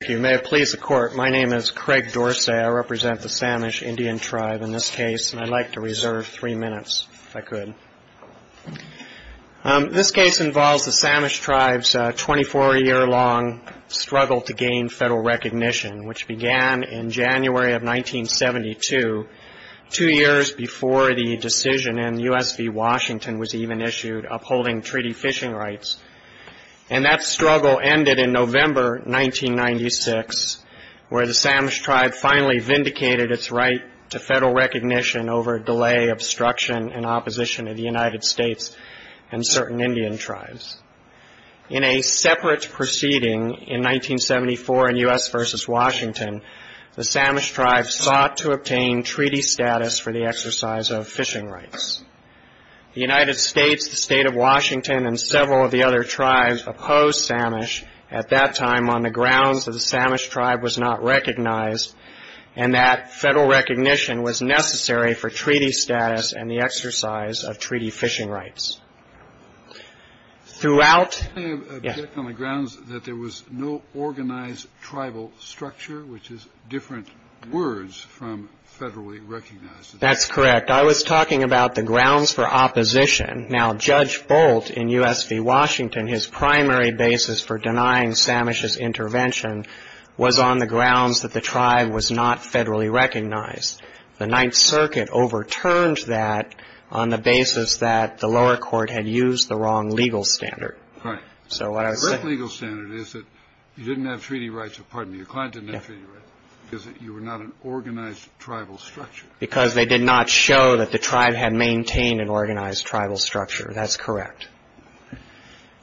If you may please the court, my name is Craig Dorsey. I represent the Samish Indian tribe in this case, and I'd like to reserve three minutes if I could. This case involves the Samish tribe's 24-year-long struggle to gain federal recognition, which began in January of 1972, two years before the decision in U.S. v. Washington was even issued upholding treaty fishing rights. And that struggle ended in November 1996, where the Samish tribe finally vindicated its right to federal recognition over delay, obstruction, and opposition of the United States and certain Indian tribes. In a separate proceeding in 1974 in U.S. v. Washington, the Samish tribe sought to obtain treaty status for the exercise of fishing rights. The United States, the state of Washington, and several of the other tribes opposed Samish. At that time, on the grounds that the Samish tribe was not recognized, and that federal recognition was necessary for treaty status and the exercise of treaty fishing rights. Throughout... I object on the grounds that there was no organized tribal structure, which is different words from federally recognized. That's correct. I was talking about the grounds for opposition. Now, Judge Bolt in U.S. v. Washington, his primary basis for denying Samish's intervention was on the grounds that the tribe was not federally recognized. The Ninth Circuit overturned that on the basis that the lower court had used the wrong legal standard. Right. So what I was saying... The correct legal standard is that you didn't have treaty rights. Pardon me. Your client didn't have treaty rights because you were not an organized tribal structure. Because they did not show that the tribe had maintained an organized tribal structure. That's correct.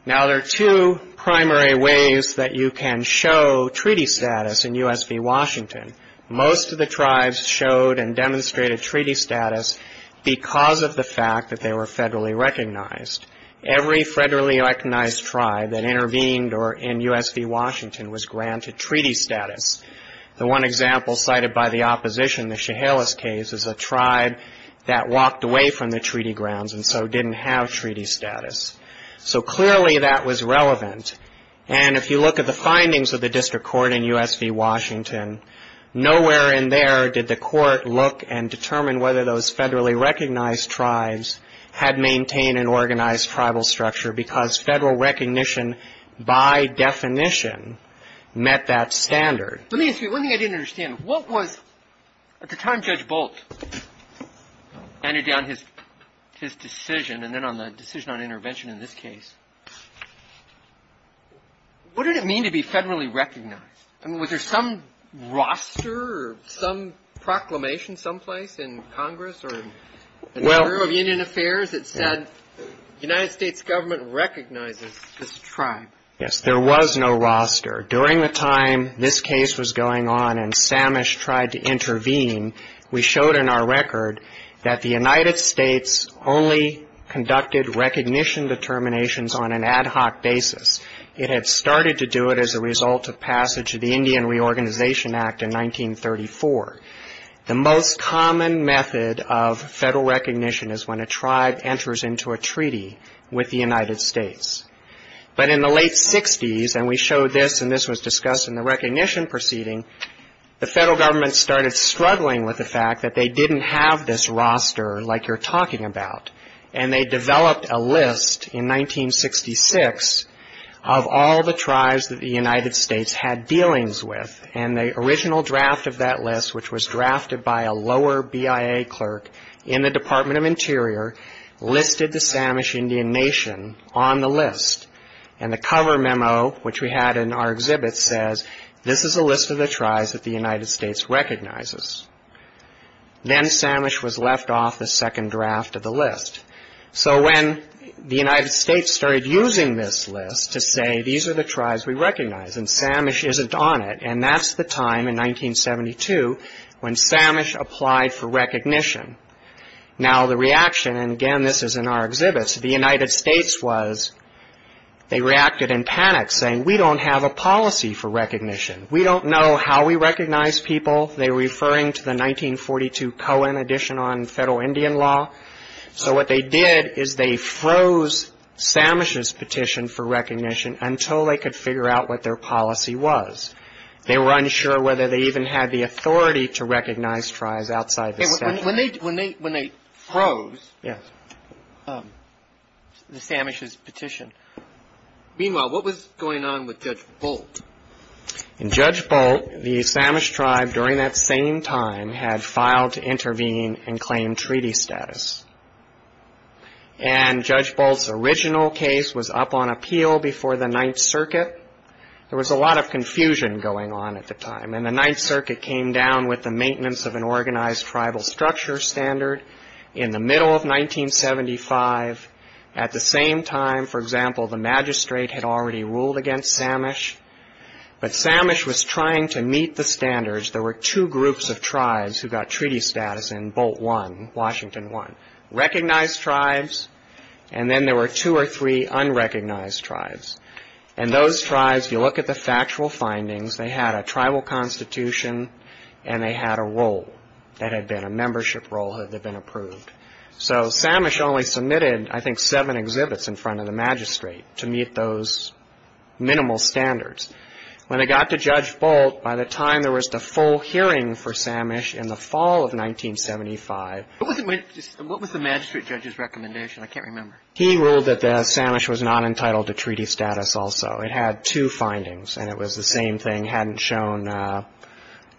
Now, there are two primary ways that you can show treaty status in U.S. v. Washington. Most of the tribes showed and demonstrated treaty status because of the fact that they were federally recognized. Every federally recognized tribe that intervened in U.S. v. Washington was granted treaty status. The one example cited by the opposition, the Chehalis case, is a tribe that walked away from the treaty grounds and so didn't have treaty status. So clearly that was relevant. And if you look at the findings of the district court in U.S. v. Washington, nowhere in there did the court look and determine whether those federally recognized tribes had maintained an organized tribal structure because federal recognition, by definition, met that standard. Let me ask you one thing I didn't understand. What was... At the time Judge Bolt handed down his decision, and then on the decision on intervention in this case, what did it mean to be federally recognized? I mean, was there some roster or some proclamation someplace in Congress or... Well... In the Bureau of Union Affairs, it said the United States government recognizes this tribe. Yes, there was no roster. During the time this case was going on and Samish tried to intervene, we showed in our record that the United States only conducted recognition determinations on an ad hoc basis. It had started to do it as a result of passage of the Indian Reorganization Act in 1934. The most common method of federal recognition is when a tribe enters into a treaty with the United States. But in the late 60s, and we showed this and this was discussed in the recognition proceeding, the federal government started struggling with the fact that they didn't have this roster like you're talking about. And they developed a list in 1966 of all the tribes that the United States had dealings with. And the original draft of that list, which was drafted by a lower BIA clerk in the Department of Interior, listed the Samish Indian Nation on the list. And the cover memo, which we had in our exhibit, says, this is a list of the tribes that the United States recognizes. Then Samish was left off the second draft of the list. So when the United States started using this list to say these are the tribes we recognize and Samish isn't on it, and that's the time in 1972 when Samish applied for recognition. Now the reaction, and again this is in our exhibits, the United States was, they reacted in panic saying we don't have a policy for recognition. We don't know how we recognize people. They were referring to the 1942 Cohen edition on federal Indian law. So what they did is they froze Samish's petition for recognition until they could figure out what their policy was. They were unsure whether they even had the authority to recognize tribes outside the statute. When they froze the Samish's petition, meanwhile, what was going on with Judge Bolt? In Judge Bolt, the Samish tribe during that same time had filed to intervene and claim treaty status. And Judge Bolt's original case was up on appeal before the Ninth Circuit. There was a lot of confusion going on at the time, and the Ninth Circuit came down with the maintenance of an organized tribal structure standard in the middle of 1975. At the same time, for example, the magistrate had already ruled against Samish, but Samish was trying to meet the standards. There were two groups of tribes who got treaty status in Bolt I, Washington I, recognized tribes, and then there were two or three unrecognized tribes. And those tribes, if you look at the factual findings, they had a tribal constitution and they had a role that had been a membership role that had been approved. So Samish only submitted, I think, seven exhibits in front of the magistrate to meet those minimal standards. When it got to Judge Bolt, by the time there was the full hearing for Samish in the fall of 1975. What was the magistrate judge's recommendation? I can't remember. He ruled that Samish was not entitled to treaty status also. It had two findings, and it was the same thing, it hadn't shown the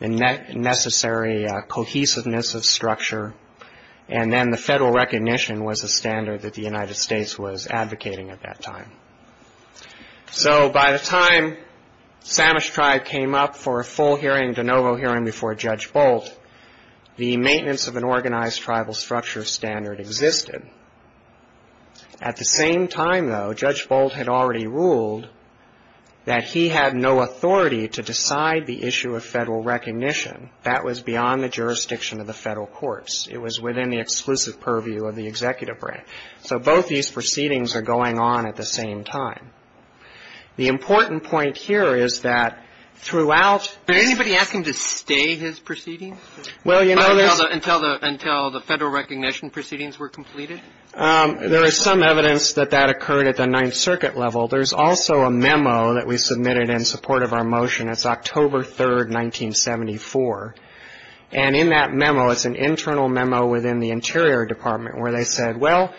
necessary cohesiveness of structure, and then the federal recognition was a standard that the United States was advocating at that time. So by the time Samish tribe came up for a full hearing, de novo hearing before Judge Bolt, the maintenance of an organized tribal structure standard existed. At the same time, though, Judge Bolt had already ruled that he had no authority to decide the issue of federal recognition. That was beyond the jurisdiction of the federal courts. It was within the exclusive purview of the executive branch. So both these proceedings are going on at the same time. The important point here is that throughout the... Did anybody ask him to stay his proceedings until the federal recognition proceedings were completed? There is some evidence that that occurred at the Ninth Circuit level. There's also a memo that we submitted in support of our motion. It's October 3, 1974. And in that memo, it's an internal memo within the Interior Department where they said, well,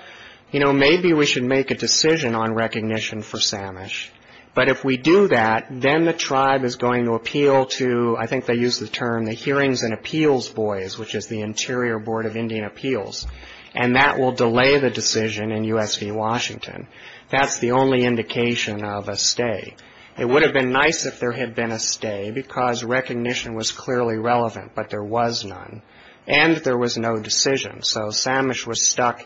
you know, maybe we should make a decision on recognition for Samish. But if we do that, then the tribe is going to appeal to, I think they used the term, the hearings and appeals boys, which is the Interior Board of Indian Appeals, and that will delay the decision in U.S. v. Washington. That's the only indication of a stay. It would have been nice if there had been a stay because recognition was clearly relevant, but there was none. And there was no decision, so Samish was stuck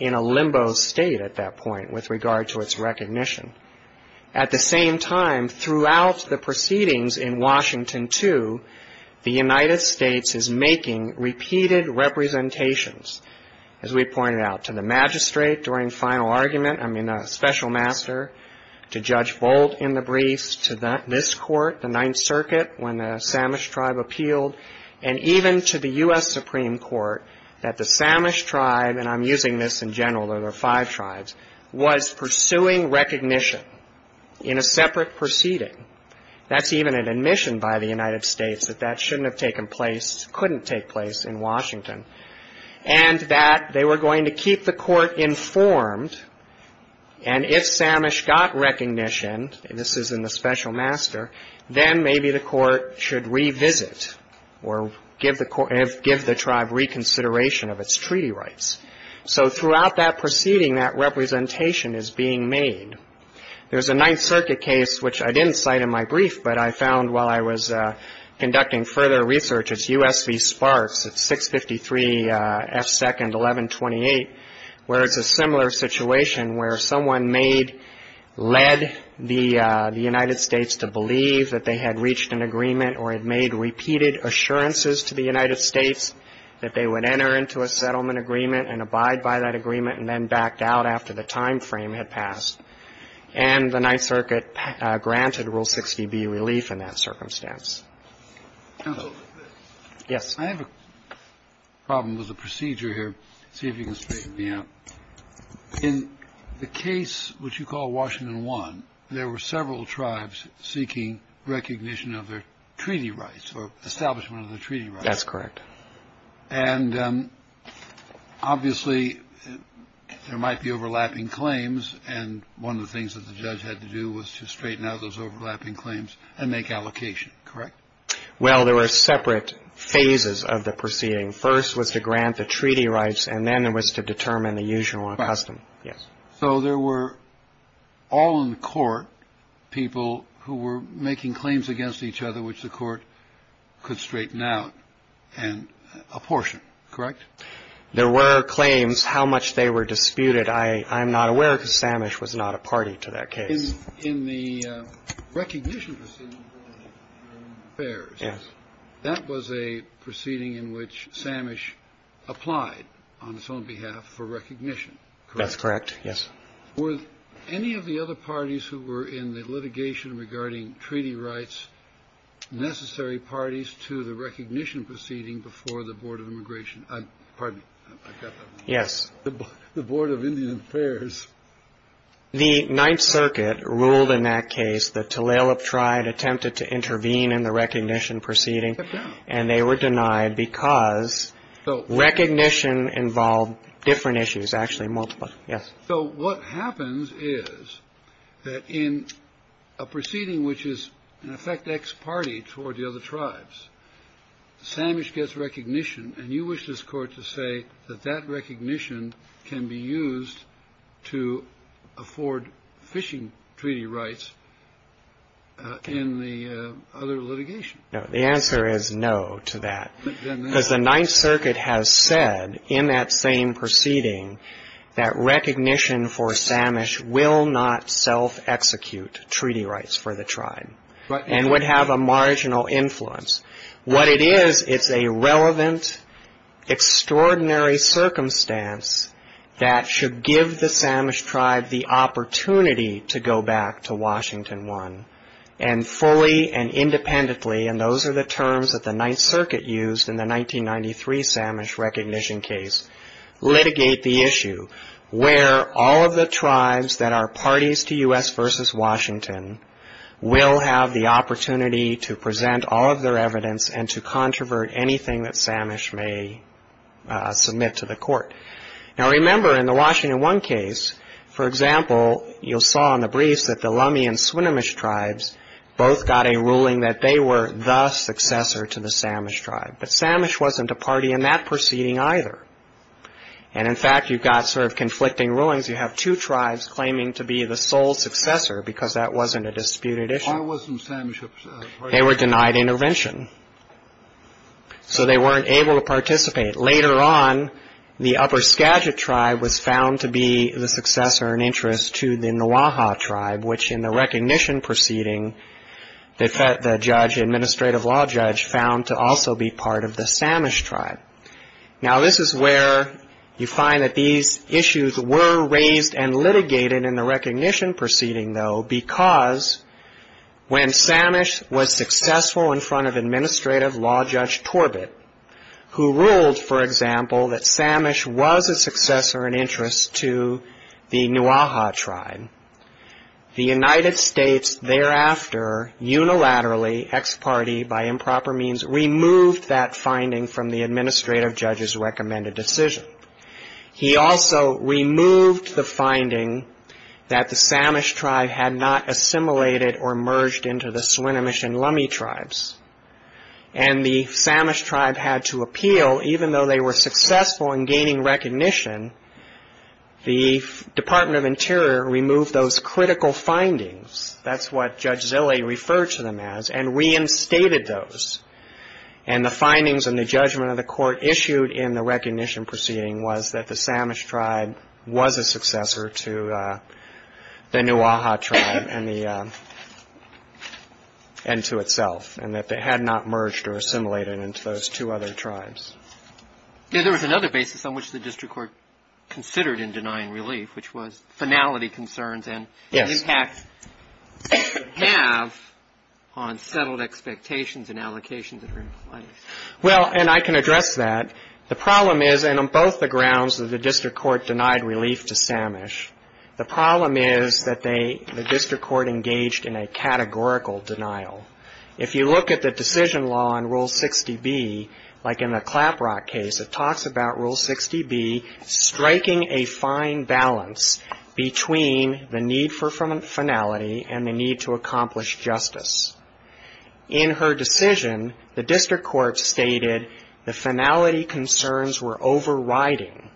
in a limbo state at that point with regard to its recognition. At the same time, throughout the proceedings in Washington, too, the United States is making repeated representations, as we pointed out, to the magistrate during final argument, I mean a special master, to Judge Boldt in the briefs, to this court, the Ninth Circuit, when the Samish tribe appealed, and even to the U.S. Supreme Court that the Samish tribe, and I'm using this in general, or there are five tribes, was pursuing recognition in a separate proceeding. That's even an admission by the United States that that shouldn't have taken place, couldn't take place in Washington, and that they were going to keep the court informed, and if Samish got recognition, and this is in the special master, then maybe the court should revisit or give the tribe reconsideration of its treaty rights. So throughout that proceeding, that representation is being made. There's a Ninth Circuit case, which I didn't cite in my brief, but I found while I was conducting further research, it's U.S. v. Sparks, it's 653 F. 2nd, 1128, where it's a similar situation where someone led the United States to believe that they had reached an agreement or had made repeated assurances to the United States that they would enter into a settlement agreement and abide by that agreement and then backed out after the time frame had passed. And the Ninth Circuit granted Rule 60B relief in that circumstance. Yes. I have a problem with the procedure here. See if you can straighten me out. In the case which you call Washington 1, there were several tribes seeking recognition of their treaty rights or establishment of their treaty rights. That's correct. And obviously there might be overlapping claims, and one of the things that the judge had to do was to straighten out those overlapping claims and make allocation, correct? Well, there were separate phases of the proceeding. First was to grant the treaty rights, and then it was to determine the usual and custom. Yes. So there were all in court people who were making claims against each other which the court could straighten out and apportion, correct? There were claims how much they were disputed. I am not aware because Samish was not a party to that case. In the recognition proceeding, that was a proceeding in which Samish applied on his own behalf for recognition, correct? That's correct, yes. Were any of the other parties who were in the litigation regarding treaty rights necessary parties to the recognition proceeding before the Board of Immigration? Pardon me. Yes. The Board of Indian Affairs. The Ninth Circuit ruled in that case that Tulalip tribe attempted to intervene in the recognition proceeding, and they were denied because recognition involved different issues, actually multiple. Yes. So what happens is that in a proceeding which is in effect ex parte toward the other tribes, Samish gets recognition, and you wish this Court to say that that recognition can be used to afford fishing treaty rights in the other litigation. No. The answer is no to that. Because the Ninth Circuit has said in that same proceeding that recognition for Samish will not self-execute treaty rights for the tribe. And would have a marginal influence. What it is, it's a relevant, extraordinary circumstance that should give the Samish tribe the opportunity to go back to Washington I, and fully and independently, and those are the terms that the Ninth Circuit used in the 1993 Samish recognition case, litigate the issue where all of the tribes that are parties to U.S. v. Washington will have the opportunity to present all of their evidence and to controvert anything that Samish may submit to the Court. Now, remember, in the Washington I case, for example, you saw in the briefs that the Lummi and Swinomish tribes both got a ruling that they were the successor to the Samish tribe. But Samish wasn't a party in that proceeding either. And, in fact, you've got sort of conflicting rulings. You have two tribes claiming to be the sole successor because that wasn't a disputed issue. Why wasn't Samish a party? They were denied intervention. So they weren't able to participate. Later on, the upper Skagit tribe was found to be the successor in interest to the Nwaha tribe, which, in the recognition proceeding, the judge, administrative law judge, found to also be part of the Samish tribe. Now, this is where you find that these issues were raised and litigated in the recognition proceeding, though, because when Samish was successful in front of Administrative Law Judge Torbett, who ruled, for example, that Samish was a successor in interest to the Nwaha tribe, the United States thereafter, unilaterally, ex parte, by improper means, removed that finding from the administrative judge's recommended decision. He also removed the finding that the Samish tribe had not assimilated or merged into the Swinomish and Lummi tribes, and the Samish tribe had to appeal. Even though they were successful in gaining recognition, the Department of Interior removed those critical findings. That's what Judge Zille referred to them as, and reinstated those. And the findings and the judgment of the court issued in the recognition proceeding was that the Samish tribe was a successor to the Nwaha tribe and to itself. And that they had not merged or assimilated into those two other tribes. Yeah, there was another basis on which the district court considered in denying relief, which was finality concerns and the impact they would have on settled expectations and allocations that were in place. Well, and I can address that. The problem is, and on both the grounds that the district court denied relief to Samish, the problem is that the district court engaged in a categorical denial. If you look at the decision law in Rule 60B, like in the Claprock case, it talks about Rule 60B striking a fine balance between the need for finality and the need to accomplish justice. In her decision, the district court stated the finality concerns were overriding,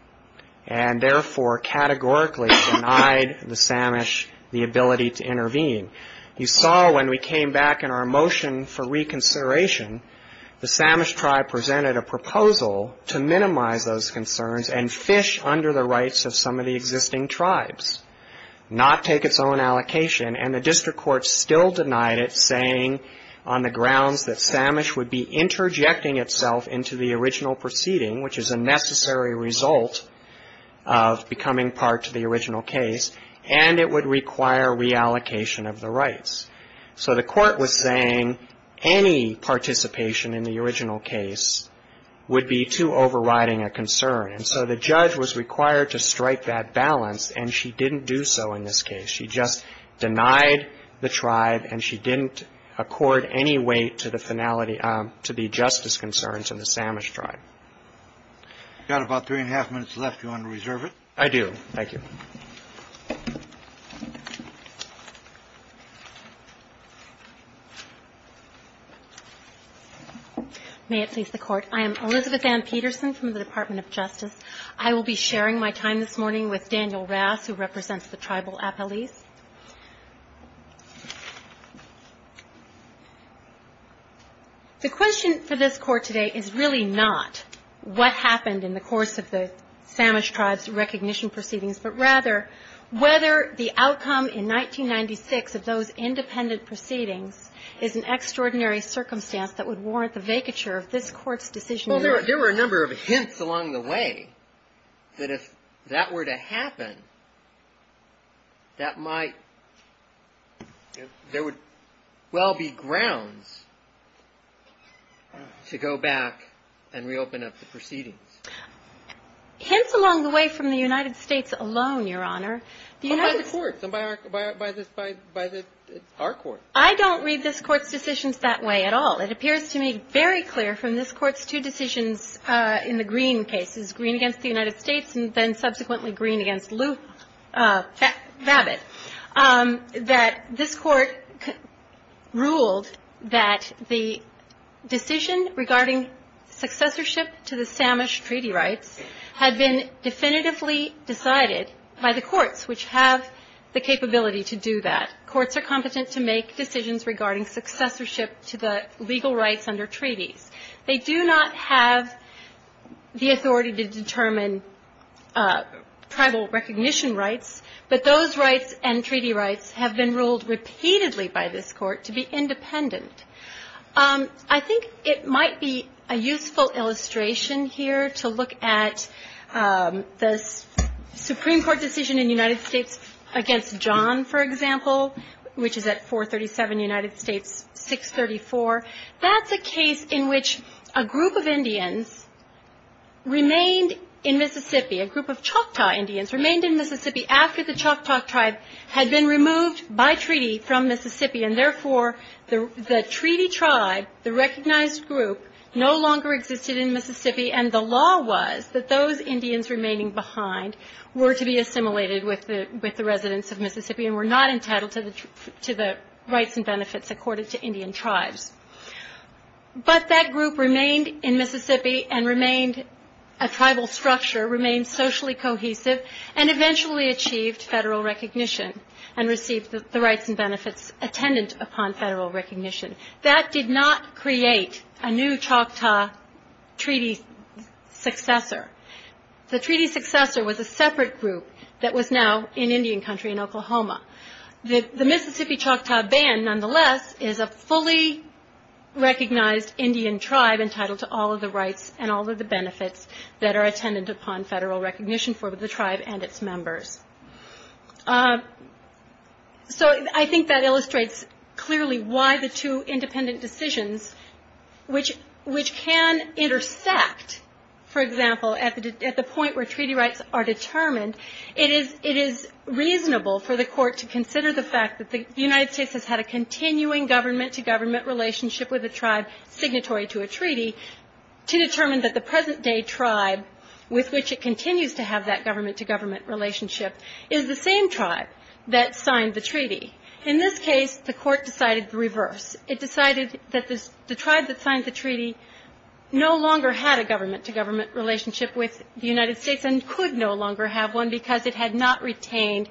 and therefore categorically denied the Samish the ability to intervene. You saw when we came back in our motion for reconsideration, the Samish tribe presented a proposal to minimize those concerns and fish under the rights of some of the existing tribes, not take its own allocation. And the district court still denied it, saying on the grounds that Samish would be interjecting itself into the original proceeding, which is a necessary result of becoming part to the original case, and it would require reallocation of the rights. So the court was saying any participation in the original case would be too overriding a concern. And so the judge was required to strike that balance, and she didn't do so in this case. She just denied the tribe, and she didn't accord any weight to the finality to the justice concerns in the Samish tribe. You've got about three and a half minutes left. Do you want to reserve it? I do. Thank you. May it please the Court. I am Elizabeth Ann Peterson from the Department of Justice. I will be sharing my time this morning with Daniel Rass, who represents the tribal appellees. The question for this Court today is really not what happened in the course of the Samish tribe's recognition proceedings, but rather whether the outcome in 1996 of those independent proceedings is an extraordinary circumstance that would warrant the vacature of this Court's decision. Well, there were a number of hints along the way that if that were to happen, that might – there would well be grounds to go back and reopen up the proceedings. Hints along the way from the United States alone, Your Honor. By the courts and by our courts. I don't read this Court's decisions that way at all. It appears to me very clear from this Court's two decisions in the Green cases, Green against the United States, and then subsequently Green against Lou Babbitt, that this Court ruled that the decision regarding successorship to the Samish treaty rights had been definitively decided by the courts, which have the capability to do that. Courts are competent to make decisions regarding successorship to the legal rights under treaties. They do not have the authority to determine tribal recognition rights, but those rights and treaty rights have been ruled repeatedly by this Court to be independent. I think it might be a useful illustration here to look at the Supreme Court decision in the United States against John, for example, which is at 437 United States, 634. That's a case in which a group of Indians remained in Mississippi, a group of Choctaw Indians remained in Mississippi after the Choctaw tribe had been removed by treaty from Mississippi, and therefore the treaty tribe, the recognized group, no longer existed in Mississippi, and the law was that those Indians remaining behind were to be assimilated with the residents of Mississippi and were not entitled to the rights and benefits accorded to Indian tribes. But that group remained in Mississippi and remained a tribal structure, remained socially cohesive, and eventually achieved federal recognition and received the rights and benefits attendant upon federal recognition. That did not create a new Choctaw treaty successor. The treaty successor was a separate group that was now in Indian country in Oklahoma. The Mississippi Choctaw Band, nonetheless, is a fully recognized Indian tribe entitled to all of the rights and all of the benefits that are attendant upon federal recognition for the tribe and its members. So I think that illustrates clearly why the two independent decisions, which can intersect, for example, at the point where treaty rights are determined, it is reasonable for the court to consider the fact that the United States has had a continuing government-to-government relationship with a tribe signatory to a treaty to determine that the present day tribe with which it continues to have that government-to-government relationship is the same tribe that signed the treaty. In this case, the court decided the reverse. It decided that the tribe that signed the treaty no longer had a government-to-government relationship with the United States and could no longer have one because it had not retained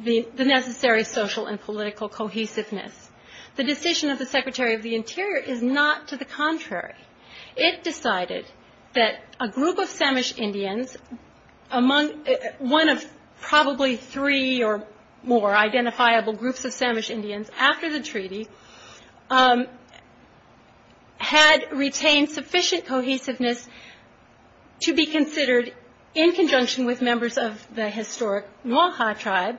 the necessary social and political cohesiveness. The decision of the Secretary of the Interior is not to the contrary. It decided that a group of Samish Indians, one of probably three or more identifiable groups of Samish Indians after the treaty, had retained sufficient cohesiveness to be considered, in conjunction with members of the historic Noir Ha tribe,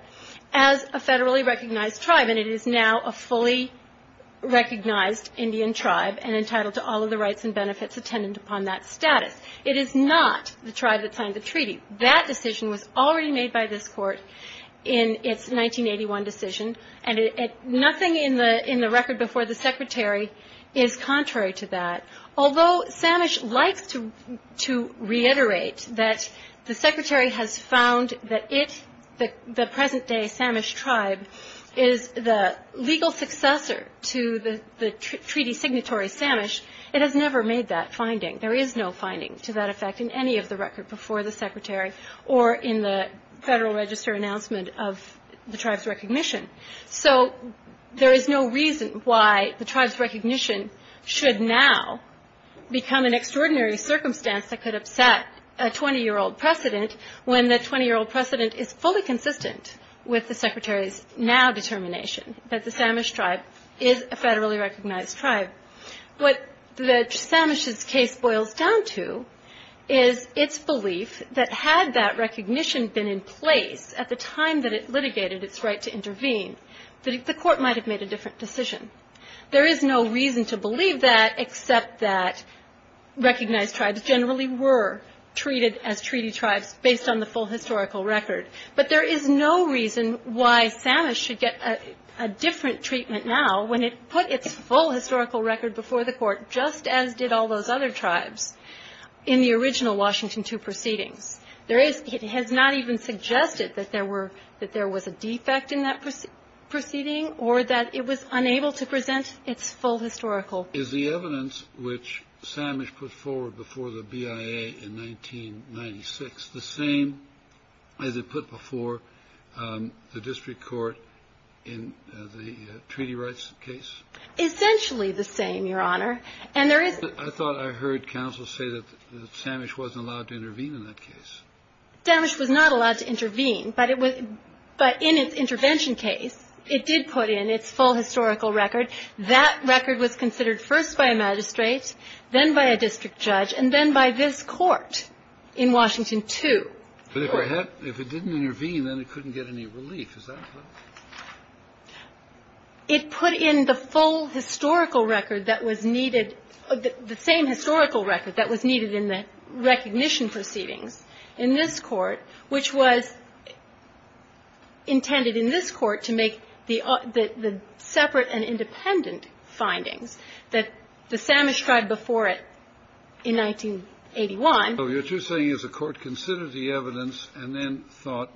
as a federally recognized tribe. And it is now a fully recognized Indian tribe and entitled to all of the rights and benefits attendant upon that status. It is not the tribe that signed the treaty. That decision was already made by this court in its 1981 decision, and nothing in the record before the Secretary is contrary to that. Although Samish likes to reiterate that the Secretary has found that it, the present-day Samish tribe, is the legal successor to the treaty signatory Samish, it has never made that finding. There is no finding to that effect in any of the record before the Secretary or in the Federal Register announcement of the tribe's recognition. So there is no reason why the tribe's recognition should now become an extraordinary circumstance that could upset a 20-year-old precedent when the 20-year-old precedent is fully consistent with the Secretary's now determination that the Samish tribe is a federally recognized tribe. What Samish's case boils down to is its belief that had that recognition been in place at the time that it litigated its right to intervene, the court might have made a different decision. There is no reason to believe that except that recognized tribes generally were treated as treaty tribes based on the full historical record. But there is no reason why Samish should get a different treatment now when it put its full historical record before the court, just as did all those other tribes in the original Washington II proceedings. It has not even suggested that there was a defect in that proceeding or that it was unable to present its full historical. Is the evidence which Samish put forward before the BIA in 1996 the same as it put before the district court in the treaty rights case? Essentially the same, Your Honor. I thought I heard counsel say that Samish wasn't allowed to intervene in that case. Samish was not allowed to intervene, but in its intervention case, it did put in its full historical record. That record was considered first by a magistrate, then by a district judge, and then by this court in Washington II. But if it didn't intervene, then it couldn't get any relief. Is that right? It put in the full historical record that was needed, the same historical record that was needed in the recognition proceedings in this court, which was intended in this court to make the separate and independent findings that the Samish tried before it in 1981. So what you're saying is the court considered the evidence and then thought,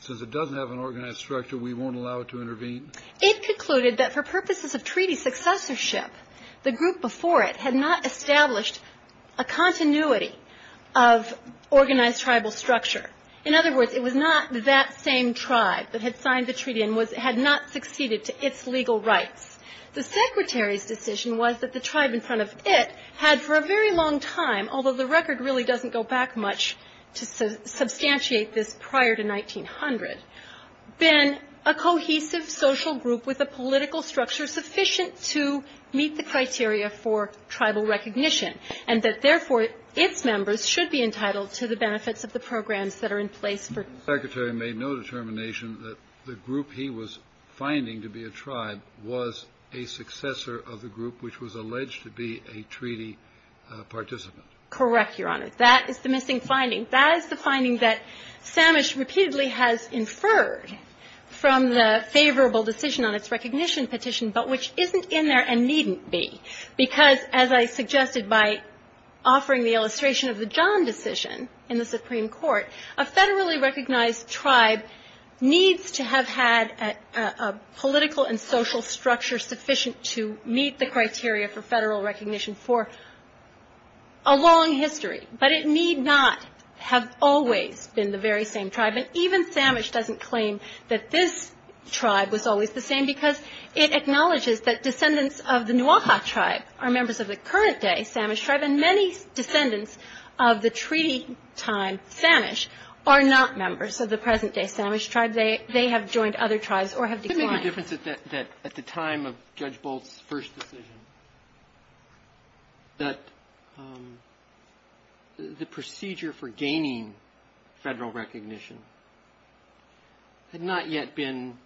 since it doesn't have an organized structure, we won't allow it to intervene? It concluded that for purposes of treaty successorship, the group before it had not established a continuity of organized tribal structure. In other words, it was not that same tribe that had signed the treaty and had not succeeded to its legal rights. The Secretary's decision was that the tribe in front of it had for a very long time, although the record really doesn't go back much to substantiate this prior to 1900, been a cohesive social group with a political structure sufficient to meet the criteria for tribal recognition, and that therefore its members should be entitled to the benefits of the programs that are in place for it. The Secretary made no determination that the group he was finding to be a tribe was a successor of the group which was alleged to be a treaty participant. Correct, Your Honor. That is the missing finding. That is the finding that Samish repeatedly has inferred from the favorable decision on its recognition petition, but which isn't in there and needn't be. Because, as I suggested by offering the illustration of the John decision in the Supreme Court, a federally recognized tribe needs to have had a political and social structure sufficient to meet the criteria for federal recognition for a long history. But it need not have always been the very same tribe. And even Samish doesn't claim that this tribe was always the same, because it acknowledges that descendants of the Nuaha tribe are members of the current day Samish tribe, and many descendants of the treaty time Samish are not members of the present day Samish tribe. They have joined other tribes or have declined. The only difference is that at the time of Judge Bolt's first decision, that the procedure for gaining federal recognition had not yet been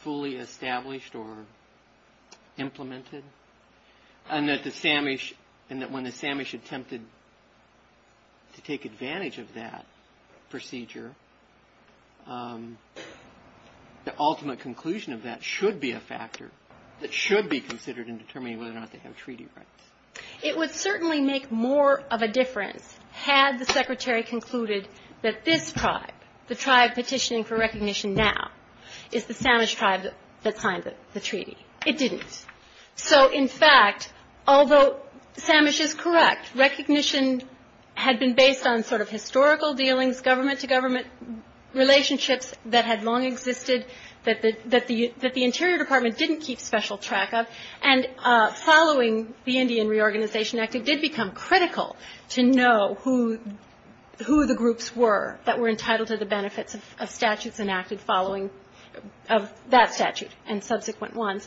fully established or implemented, and that when the Samish attempted to take advantage of that procedure, the ultimate conclusion of that should be a factor that should be considered in determining whether or not they have treaty rights. It would certainly make more of a difference had the Secretary concluded that this tribe, the tribe petitioning for recognition now, is the Samish tribe that signed the treaty. It didn't. So, in fact, although Samish is correct, recognition had been based on sort of historical dealings, government-to-government relationships that had long existed, that the Interior Department didn't keep special track of. And following the Indian Reorganization Act, it did become critical to know who the groups were that were entitled to the benefits of statutes enacted following that statute and subsequent ones.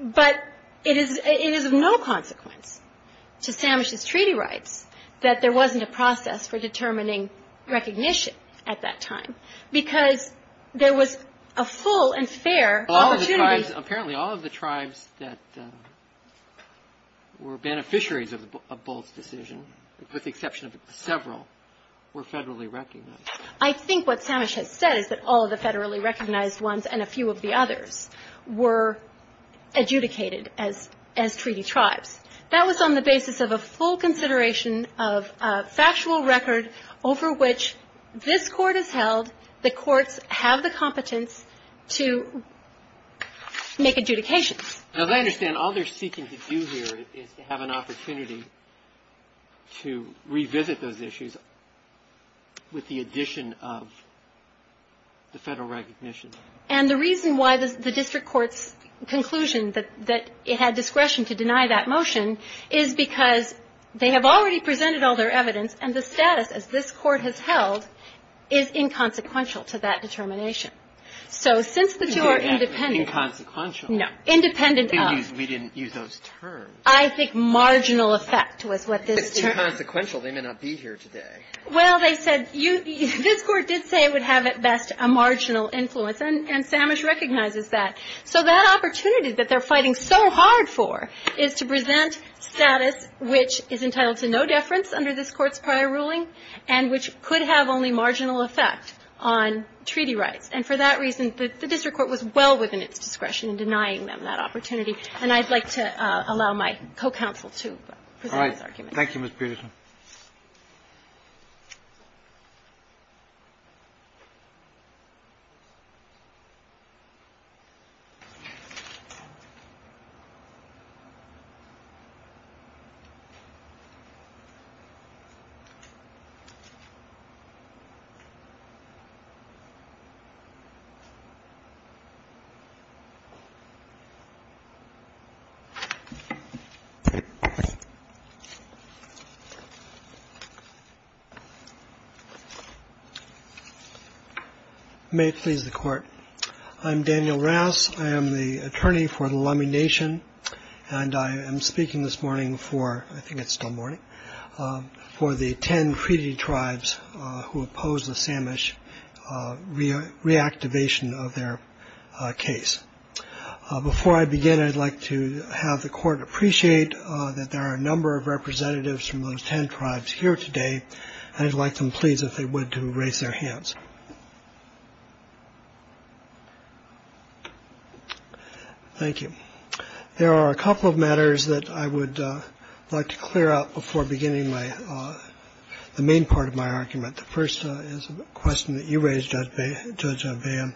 But it is of no consequence to Samish's treaty rights that there wasn't a process for determining recognition at that time, because there was a full and fair opportunity. Apparently, all of the tribes that were beneficiaries of Bolt's decision, with the exception of several, were federally recognized. I think what Samish has said is that all of the federally recognized ones and a few of the others were adjudicated as treaty tribes. That was on the basis of a full consideration of a factual record over which this Court has held, the courts have the competence to make adjudications. Now, as I understand, all they're seeking to do here is to have an opportunity to revisit those issues with the addition of the federal recognition. And the reason why the district court's conclusion that it had discretion to deny that motion is because they have already presented all their evidence, and the status, as this Court has held, is inconsequential to that determination. So since the two are independent of — No. Independent of. We didn't use those terms. I think marginal effect was what this term — It's inconsequential. They may not be here today. Well, they said — this Court did say it would have at best a marginal influence, and Samish recognizes that. So that opportunity that they're fighting so hard for is to present status which is entitled to no deference under this Court's prior ruling and which could have only marginal effect on treaty rights. And for that reason, the district court was well within its discretion in denying them that opportunity. And I'd like to allow my co-counsel to present this argument. Thank you, Ms. Peterson. May it please the Court. I'm Daniel Rouse. I am the attorney for the Lummi Nation, and I am speaking this morning for — I think it's still morning — for the ten treaty tribes who oppose the Samish reactivation of their case. Before I begin, I'd like to have the Court appreciate that there are a number of representatives from those ten tribes here today, and I'd like them, please, if they would, to raise their hands. Thank you. There are a couple of matters that I would like to clear up before beginning my — the main part of my argument. The first is a question that you raised, Judge Van,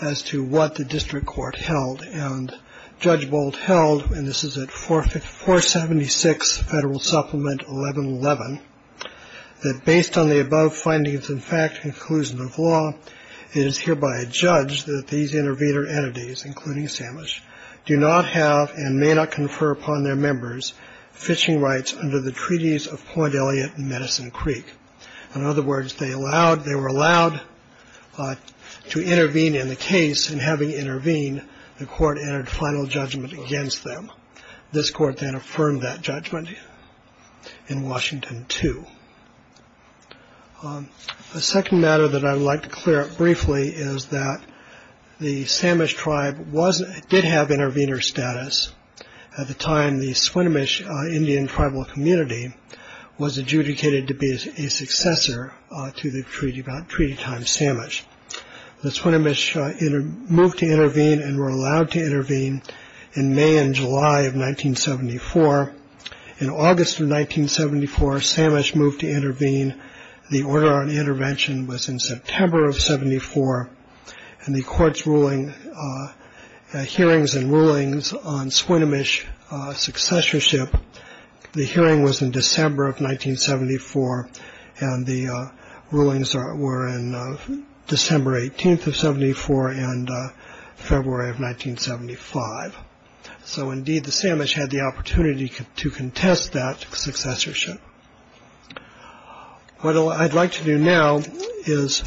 as to what the district court held. And Judge Boldt held — and this is at 476 Federal Supplement 1111 — that based on the above findings and fact and conclusion of law, it is hereby adjudged that these intervenor entities, including Samish, do not have and may not confer upon their members fishing rights under the treaties of Point Elliott and Medicine Creek. In other words, they allowed — they were allowed to intervene in the case, and having intervened, the court entered final judgment against them. This court then affirmed that judgment in Washington, too. A second matter that I would like to clear up briefly is that the Samish tribe was — did have intervenor status. At the time, the Swinomish Indian tribal community was adjudicated to be a successor to the treaty tribe Samish. The Swinomish moved to intervene and were allowed to intervene in May and July of 1974. In August of 1974, Samish moved to intervene. The order on intervention was in September of 74, and the court's ruling — hearings and rulings on Swinomish successorship, the hearing was in December of 1974, and the rulings were in December 18th of 74 and February of 1975. So, indeed, the Samish had the opportunity to contest that successorship. What I'd like to do now is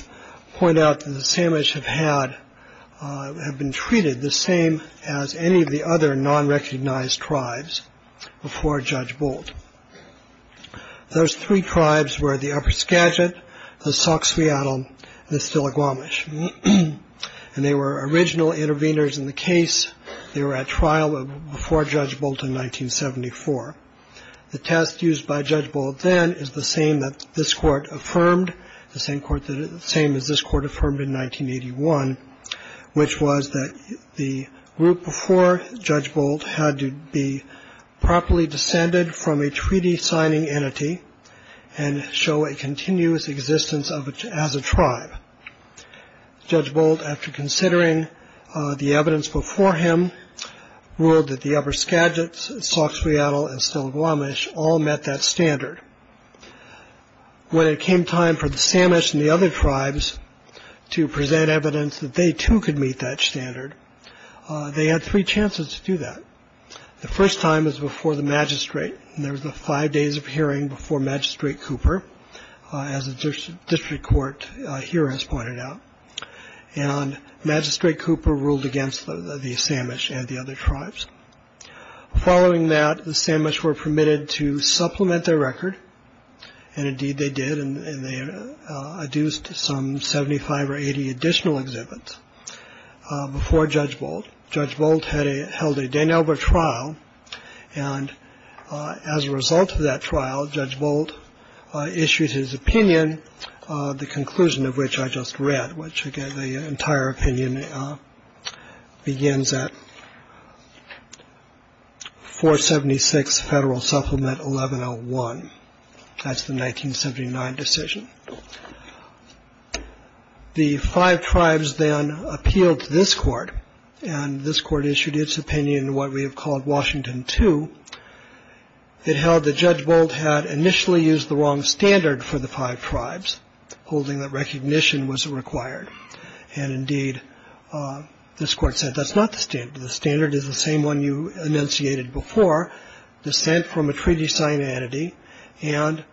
point out that the Samish have had — have been treated the same as any of the other non-recognized tribes before Judge Bolt. Those three tribes were the Upper Skagit, the Sauk-Swiatl, and the Stillaguamish, and they were original intervenors in the case. They were at trial before Judge Bolt in 1974. The test used by Judge Bolt then is the same that this court affirmed, the same as this court affirmed in 1981, which was that the group before Judge Bolt had to be properly descended from a treaty-signing entity and show a continuous existence as a tribe. Judge Bolt, after considering the evidence before him, ruled that the Upper Skagit, Sauk-Swiatl, and Stillaguamish all met that standard. When it came time for the Samish and the other tribes to present evidence that they, too, could meet that standard, they had three chances to do that. The first time was before the magistrate, and there was a five days of hearing before Magistrate Cooper, as the district court here has pointed out. And Magistrate Cooper ruled against the Samish and the other tribes. Following that, the Samish were permitted to supplement their record, and indeed they did, and they adduced some 75 or 80 additional exhibits before Judge Bolt. Judge Bolt held a Dane-Elbert trial, and as a result of that trial, Judge Bolt issued his opinion, the conclusion of which I just read, which the entire opinion begins at 476 Federal Supplement 1101. That's the 1979 decision. The five tribes then appealed to this court, and this court issued its opinion in what we have called Washington II. It held that Judge Bolt had initially used the wrong standard for the five tribes, holding that recognition was required. And indeed, this court said that's not the standard. The standard is the same one you enunciated before, dissent from a treaty signed entity, and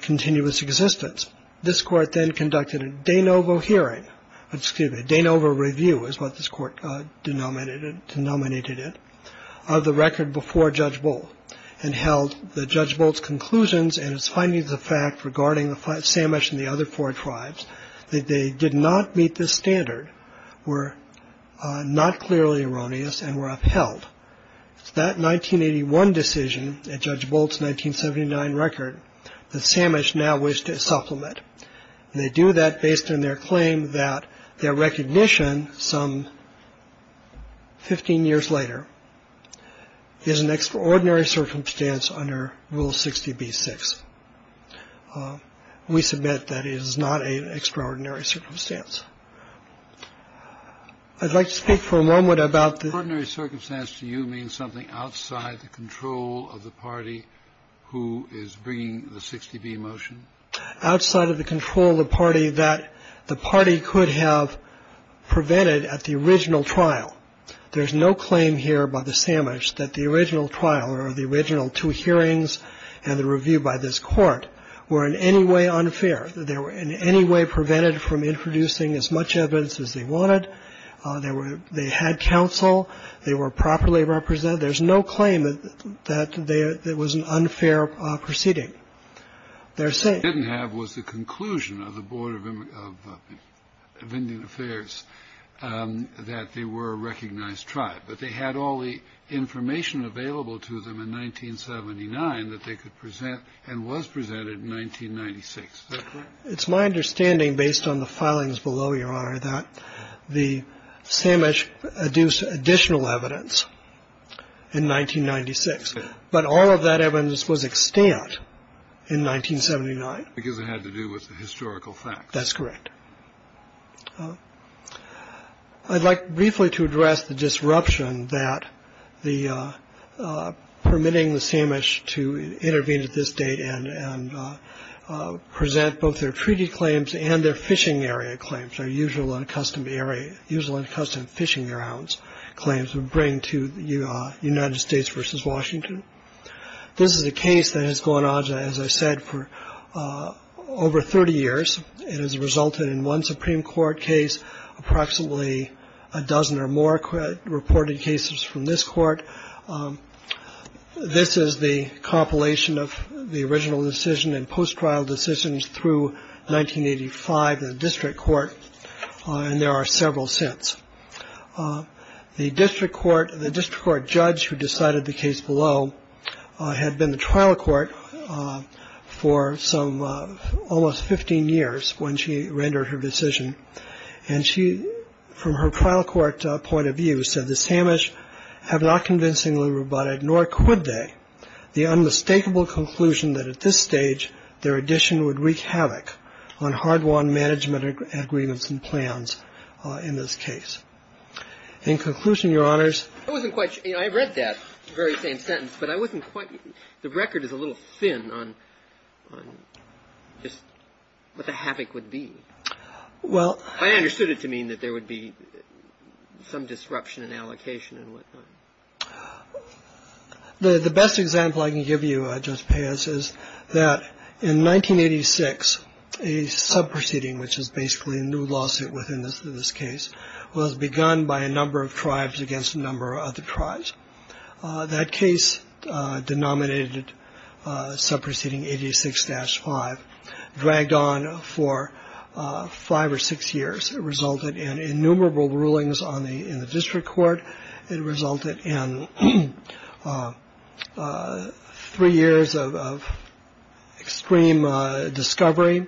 continuous existence. This court then conducted a Danovo hearing, excuse me, a Danovo review is what this court denominated it, of the record before Judge Bolt, and held that Judge Bolt's conclusions and his findings of the fact regarding the Samish and the other four tribes that they did not meet this standard were not clearly erroneous and were upheld. It's that 1981 decision and Judge Bolt's 1979 record that Samish now wished to supplement. They do that based on their claim that their recognition some 15 years later is an extraordinary circumstance under Rule 60b-6. We submit that is not an extraordinary circumstance. I'd like to speak for a moment about the ---- The extraordinary circumstance to you means something outside the control of the party who is bringing the 60b motion? Outside of the control of the party that the party could have prevented at the original trial. There's no claim here by the Samish that the original trial or the original two hearings and the review by this court were in any way unfair, that they were in any way prevented from introducing as much evidence as they wanted. They were they had counsel. They were properly represented. There's no claim that there was an unfair proceeding. They're saying What they didn't have was the conclusion of the Board of Indian Affairs that they were a recognized tribe, that they had all the information available to them in 1979 that they could present and was presented in 1996. Is that correct? It's my understanding, based on the filings below, Your Honor, that the Samish adduced additional evidence in 1996. But all of that evidence was extant in 1979. Because it had to do with the historical facts. That's correct. I'd like briefly to address the disruption that the permitting the Samish to intervene at this date and present both their treaty claims and their fishing area claims, their usual and custom fishing grounds claims would bring to the United States versus Washington. This is a case that has gone on, as I said, for over 30 years. It has resulted in one Supreme Court case, approximately a dozen or more reported cases from this court. This is the compilation of the original decision and post-trial decisions through 1985 in the district court. And there are several since. The district court, the district court judge who decided the case below, had been the trial court for some almost 15 years when she rendered her decision. And she, from her trial court point of view, said the Samish have not convincingly rebutted, nor could they, the unmistakable conclusion that at this stage, their addition would wreak havoc on hard-won management agreements and plans in this case. In conclusion, Your Honors. I wasn't quite sure. I read that very same sentence, but I wasn't quite. The record is a little thin on just what the havoc would be. Well. I understood it to mean that there would be some disruption in allocation and whatnot. The best example I can give you, I just pay us is that in 1986, a sub proceeding, which is basically a new lawsuit within this in this case was begun by a number of tribes against a number of the tribes. That case denominated sub proceeding 86 dash five dragged on for five or six years. It resulted in innumerable rulings on the in the district court. It resulted in three years of extreme discovery,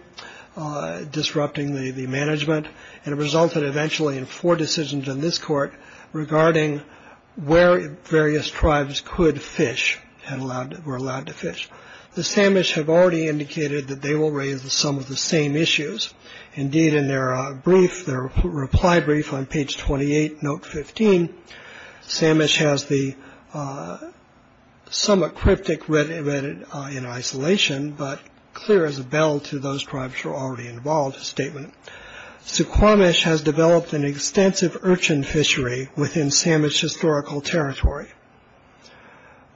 disrupting the management. And it resulted eventually in four decisions in this court regarding where various tribes could fish and allowed were allowed to fish. The Samish have already indicated that they will raise some of the same issues. Indeed, in their brief, their reply brief on page twenty eight. Note 15. Samish has the summit cryptic read it in isolation, but clear as a bell to those tribes are already involved. Statement to Quamish has developed an extensive urchin fishery within Samish historical territory.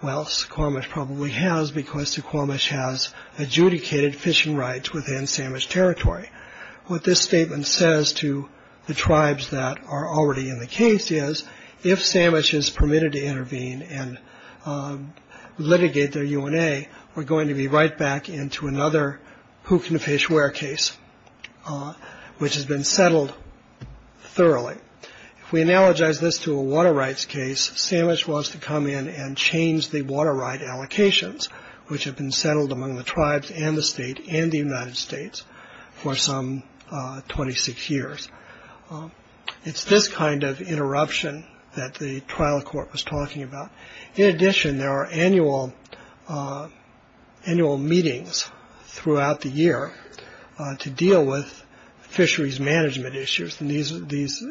Well, Squamish probably has because to Quamish has adjudicated fishing rights within Samish territory. What this statement says to the tribes that are already in the case is if Samish is permitted to intervene and litigate their UNA, we're going to be right back into another who can fish where case, which has been settled thoroughly. If we analogize this to a water rights case, Samish wants to come in and change the water right allocations, which have been settled among the tribes and the state and the United States for some 26 years. It's this kind of interruption that the trial court was talking about. In addition, there are annual annual meetings throughout the year to deal with fisheries management issues. And these are these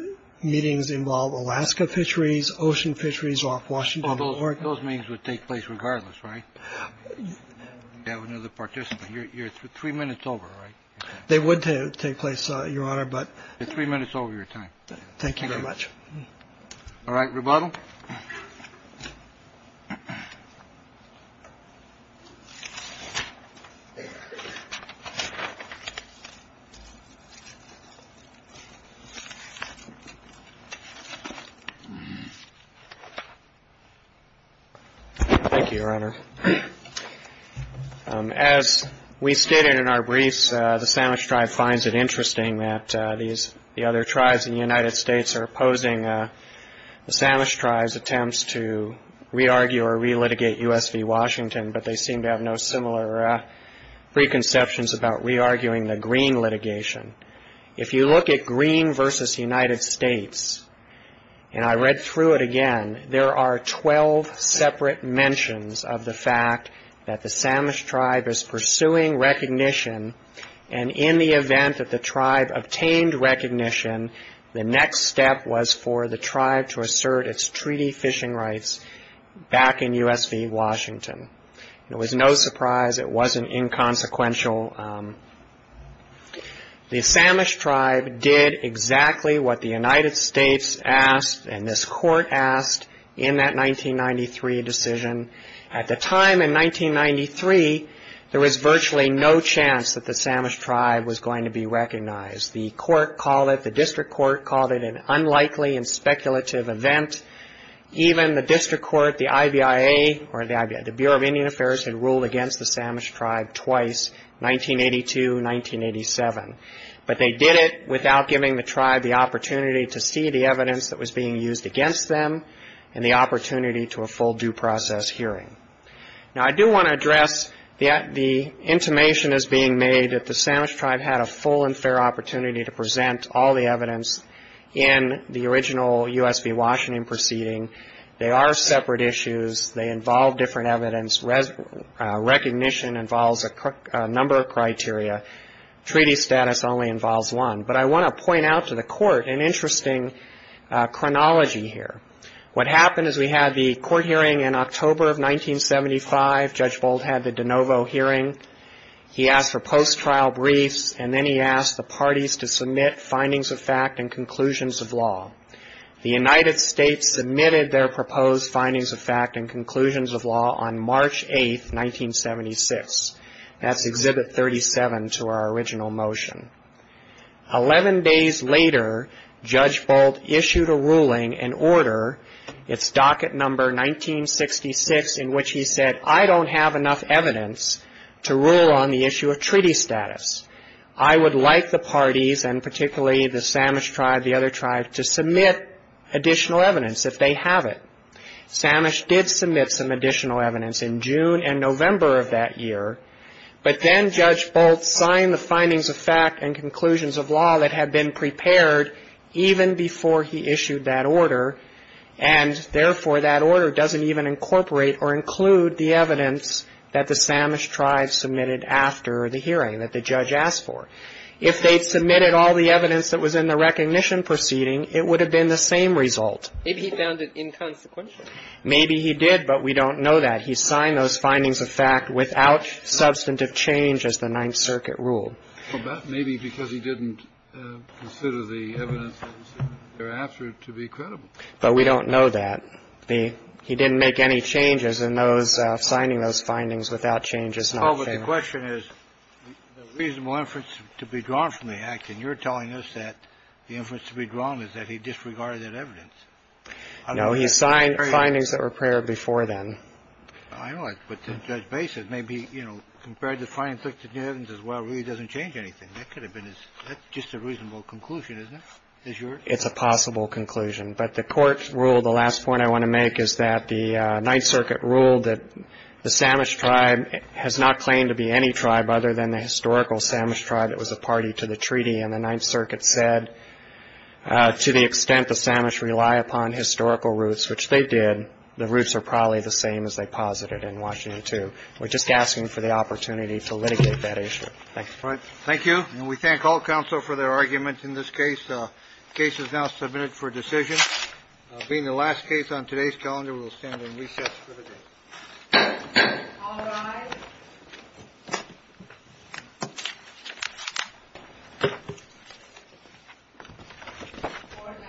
meetings involve Alaska fisheries, ocean fisheries off Washington. Those meetings would take place regardless. Right. You have another participant. You're three minutes over. They would take place. Your honor. But three minutes over your time. Thank you very much. All right. Rebuttal. Thank you, Your Honor. As we stated in our briefs, the Samish tribe finds it interesting that these the other tribes in the United States are opposing. The Samish tribes attempts to re-argue or re-litigate U.S. v. Washington, but they seem to have no similar preconceptions about re-arguing the green litigation. If you look at green versus United States, and I read through it again, there are 12 separate mentions of the fact that the Samish tribe is pursuing recognition. And in the event that the tribe obtained recognition, the next step was for the tribe to assert its treaty fishing rights back in U.S. v. Washington. It was no surprise. It wasn't inconsequential. The Samish tribe did exactly what the United States asked and this court asked in that 1993 decision. At the time in 1993, there was virtually no chance that the Samish tribe was going to be recognized. The court called it, the district court called it an unlikely and speculative event. Even the district court, the IBIA or the Bureau of Indian Affairs had ruled against the Samish tribe twice, 1982, 1987. But they did it without giving the tribe the opportunity to see the evidence that was being used against them and the opportunity to a full due process hearing. Now, I do want to address the intimation is being made that the Samish tribe had a full and fair opportunity to present all the evidence in the original U.S. v. Washington proceeding. They are separate issues. They involve different evidence. Recognition involves a number of criteria. Treaty status only involves one. But I want to point out to the court an interesting chronology here. What happened is we had the court hearing in October of 1975. Judge Boldt had the de novo hearing. He asked for post-trial briefs, and then he asked the parties to submit findings of fact and conclusions of law. The United States submitted their proposed findings of fact and conclusions of law on March 8, 1976. That's Exhibit 37 to our original motion. Eleven days later, Judge Boldt issued a ruling and order. It's docket number 1966 in which he said, I don't have enough evidence to rule on the issue of treaty status. I would like the parties, and particularly the Samish tribe, the other tribe, to submit additional evidence if they have it. Samish did submit some additional evidence in June and November of that year, but then Judge Boldt signed the findings of fact and conclusions of law that had been prepared even before he issued that order. And, therefore, that order doesn't even incorporate or include the evidence that the Samish tribe submitted after the hearing that the judge asked for. If they'd submitted all the evidence that was in the recognition proceeding, it would have been the same result. Maybe he found it inconsequential. Maybe he did, but we don't know that. He signed those findings of fact without substantive change as the Ninth Circuit ruled. Well, that may be because he didn't consider the evidence that was there after to be credible. But we don't know that. He didn't make any changes in those, signing those findings without changes. No, but the question is, the reasonable inference to be drawn from the act, and you're telling us that the inference to be drawn is that he disregarded that evidence. No, he signed findings that were prepared before then. I know. But Judge Bassett, maybe, you know, compared the findings with the evidence as well really doesn't change anything. That could have been just a reasonable conclusion, isn't it? It's a possible conclusion. But the Court ruled the last point I want to make is that the Ninth Circuit ruled that the Samish tribe has not claimed to be any tribe other than the historical Samish tribe that was a party to the treaty. And the Ninth Circuit said, to the extent the Samish rely upon historical roots, which they did, the roots are probably the same as they posited in Washington, too. We're just asking for the opportunity to litigate that issue. Thank you. Thank you. And we thank all counsel for their argument in this case. The case is now submitted for decision. Being the last case on today's calendar, we'll stand and recess for the day. All rise. The Court now stands in recess. The Court is adjourned.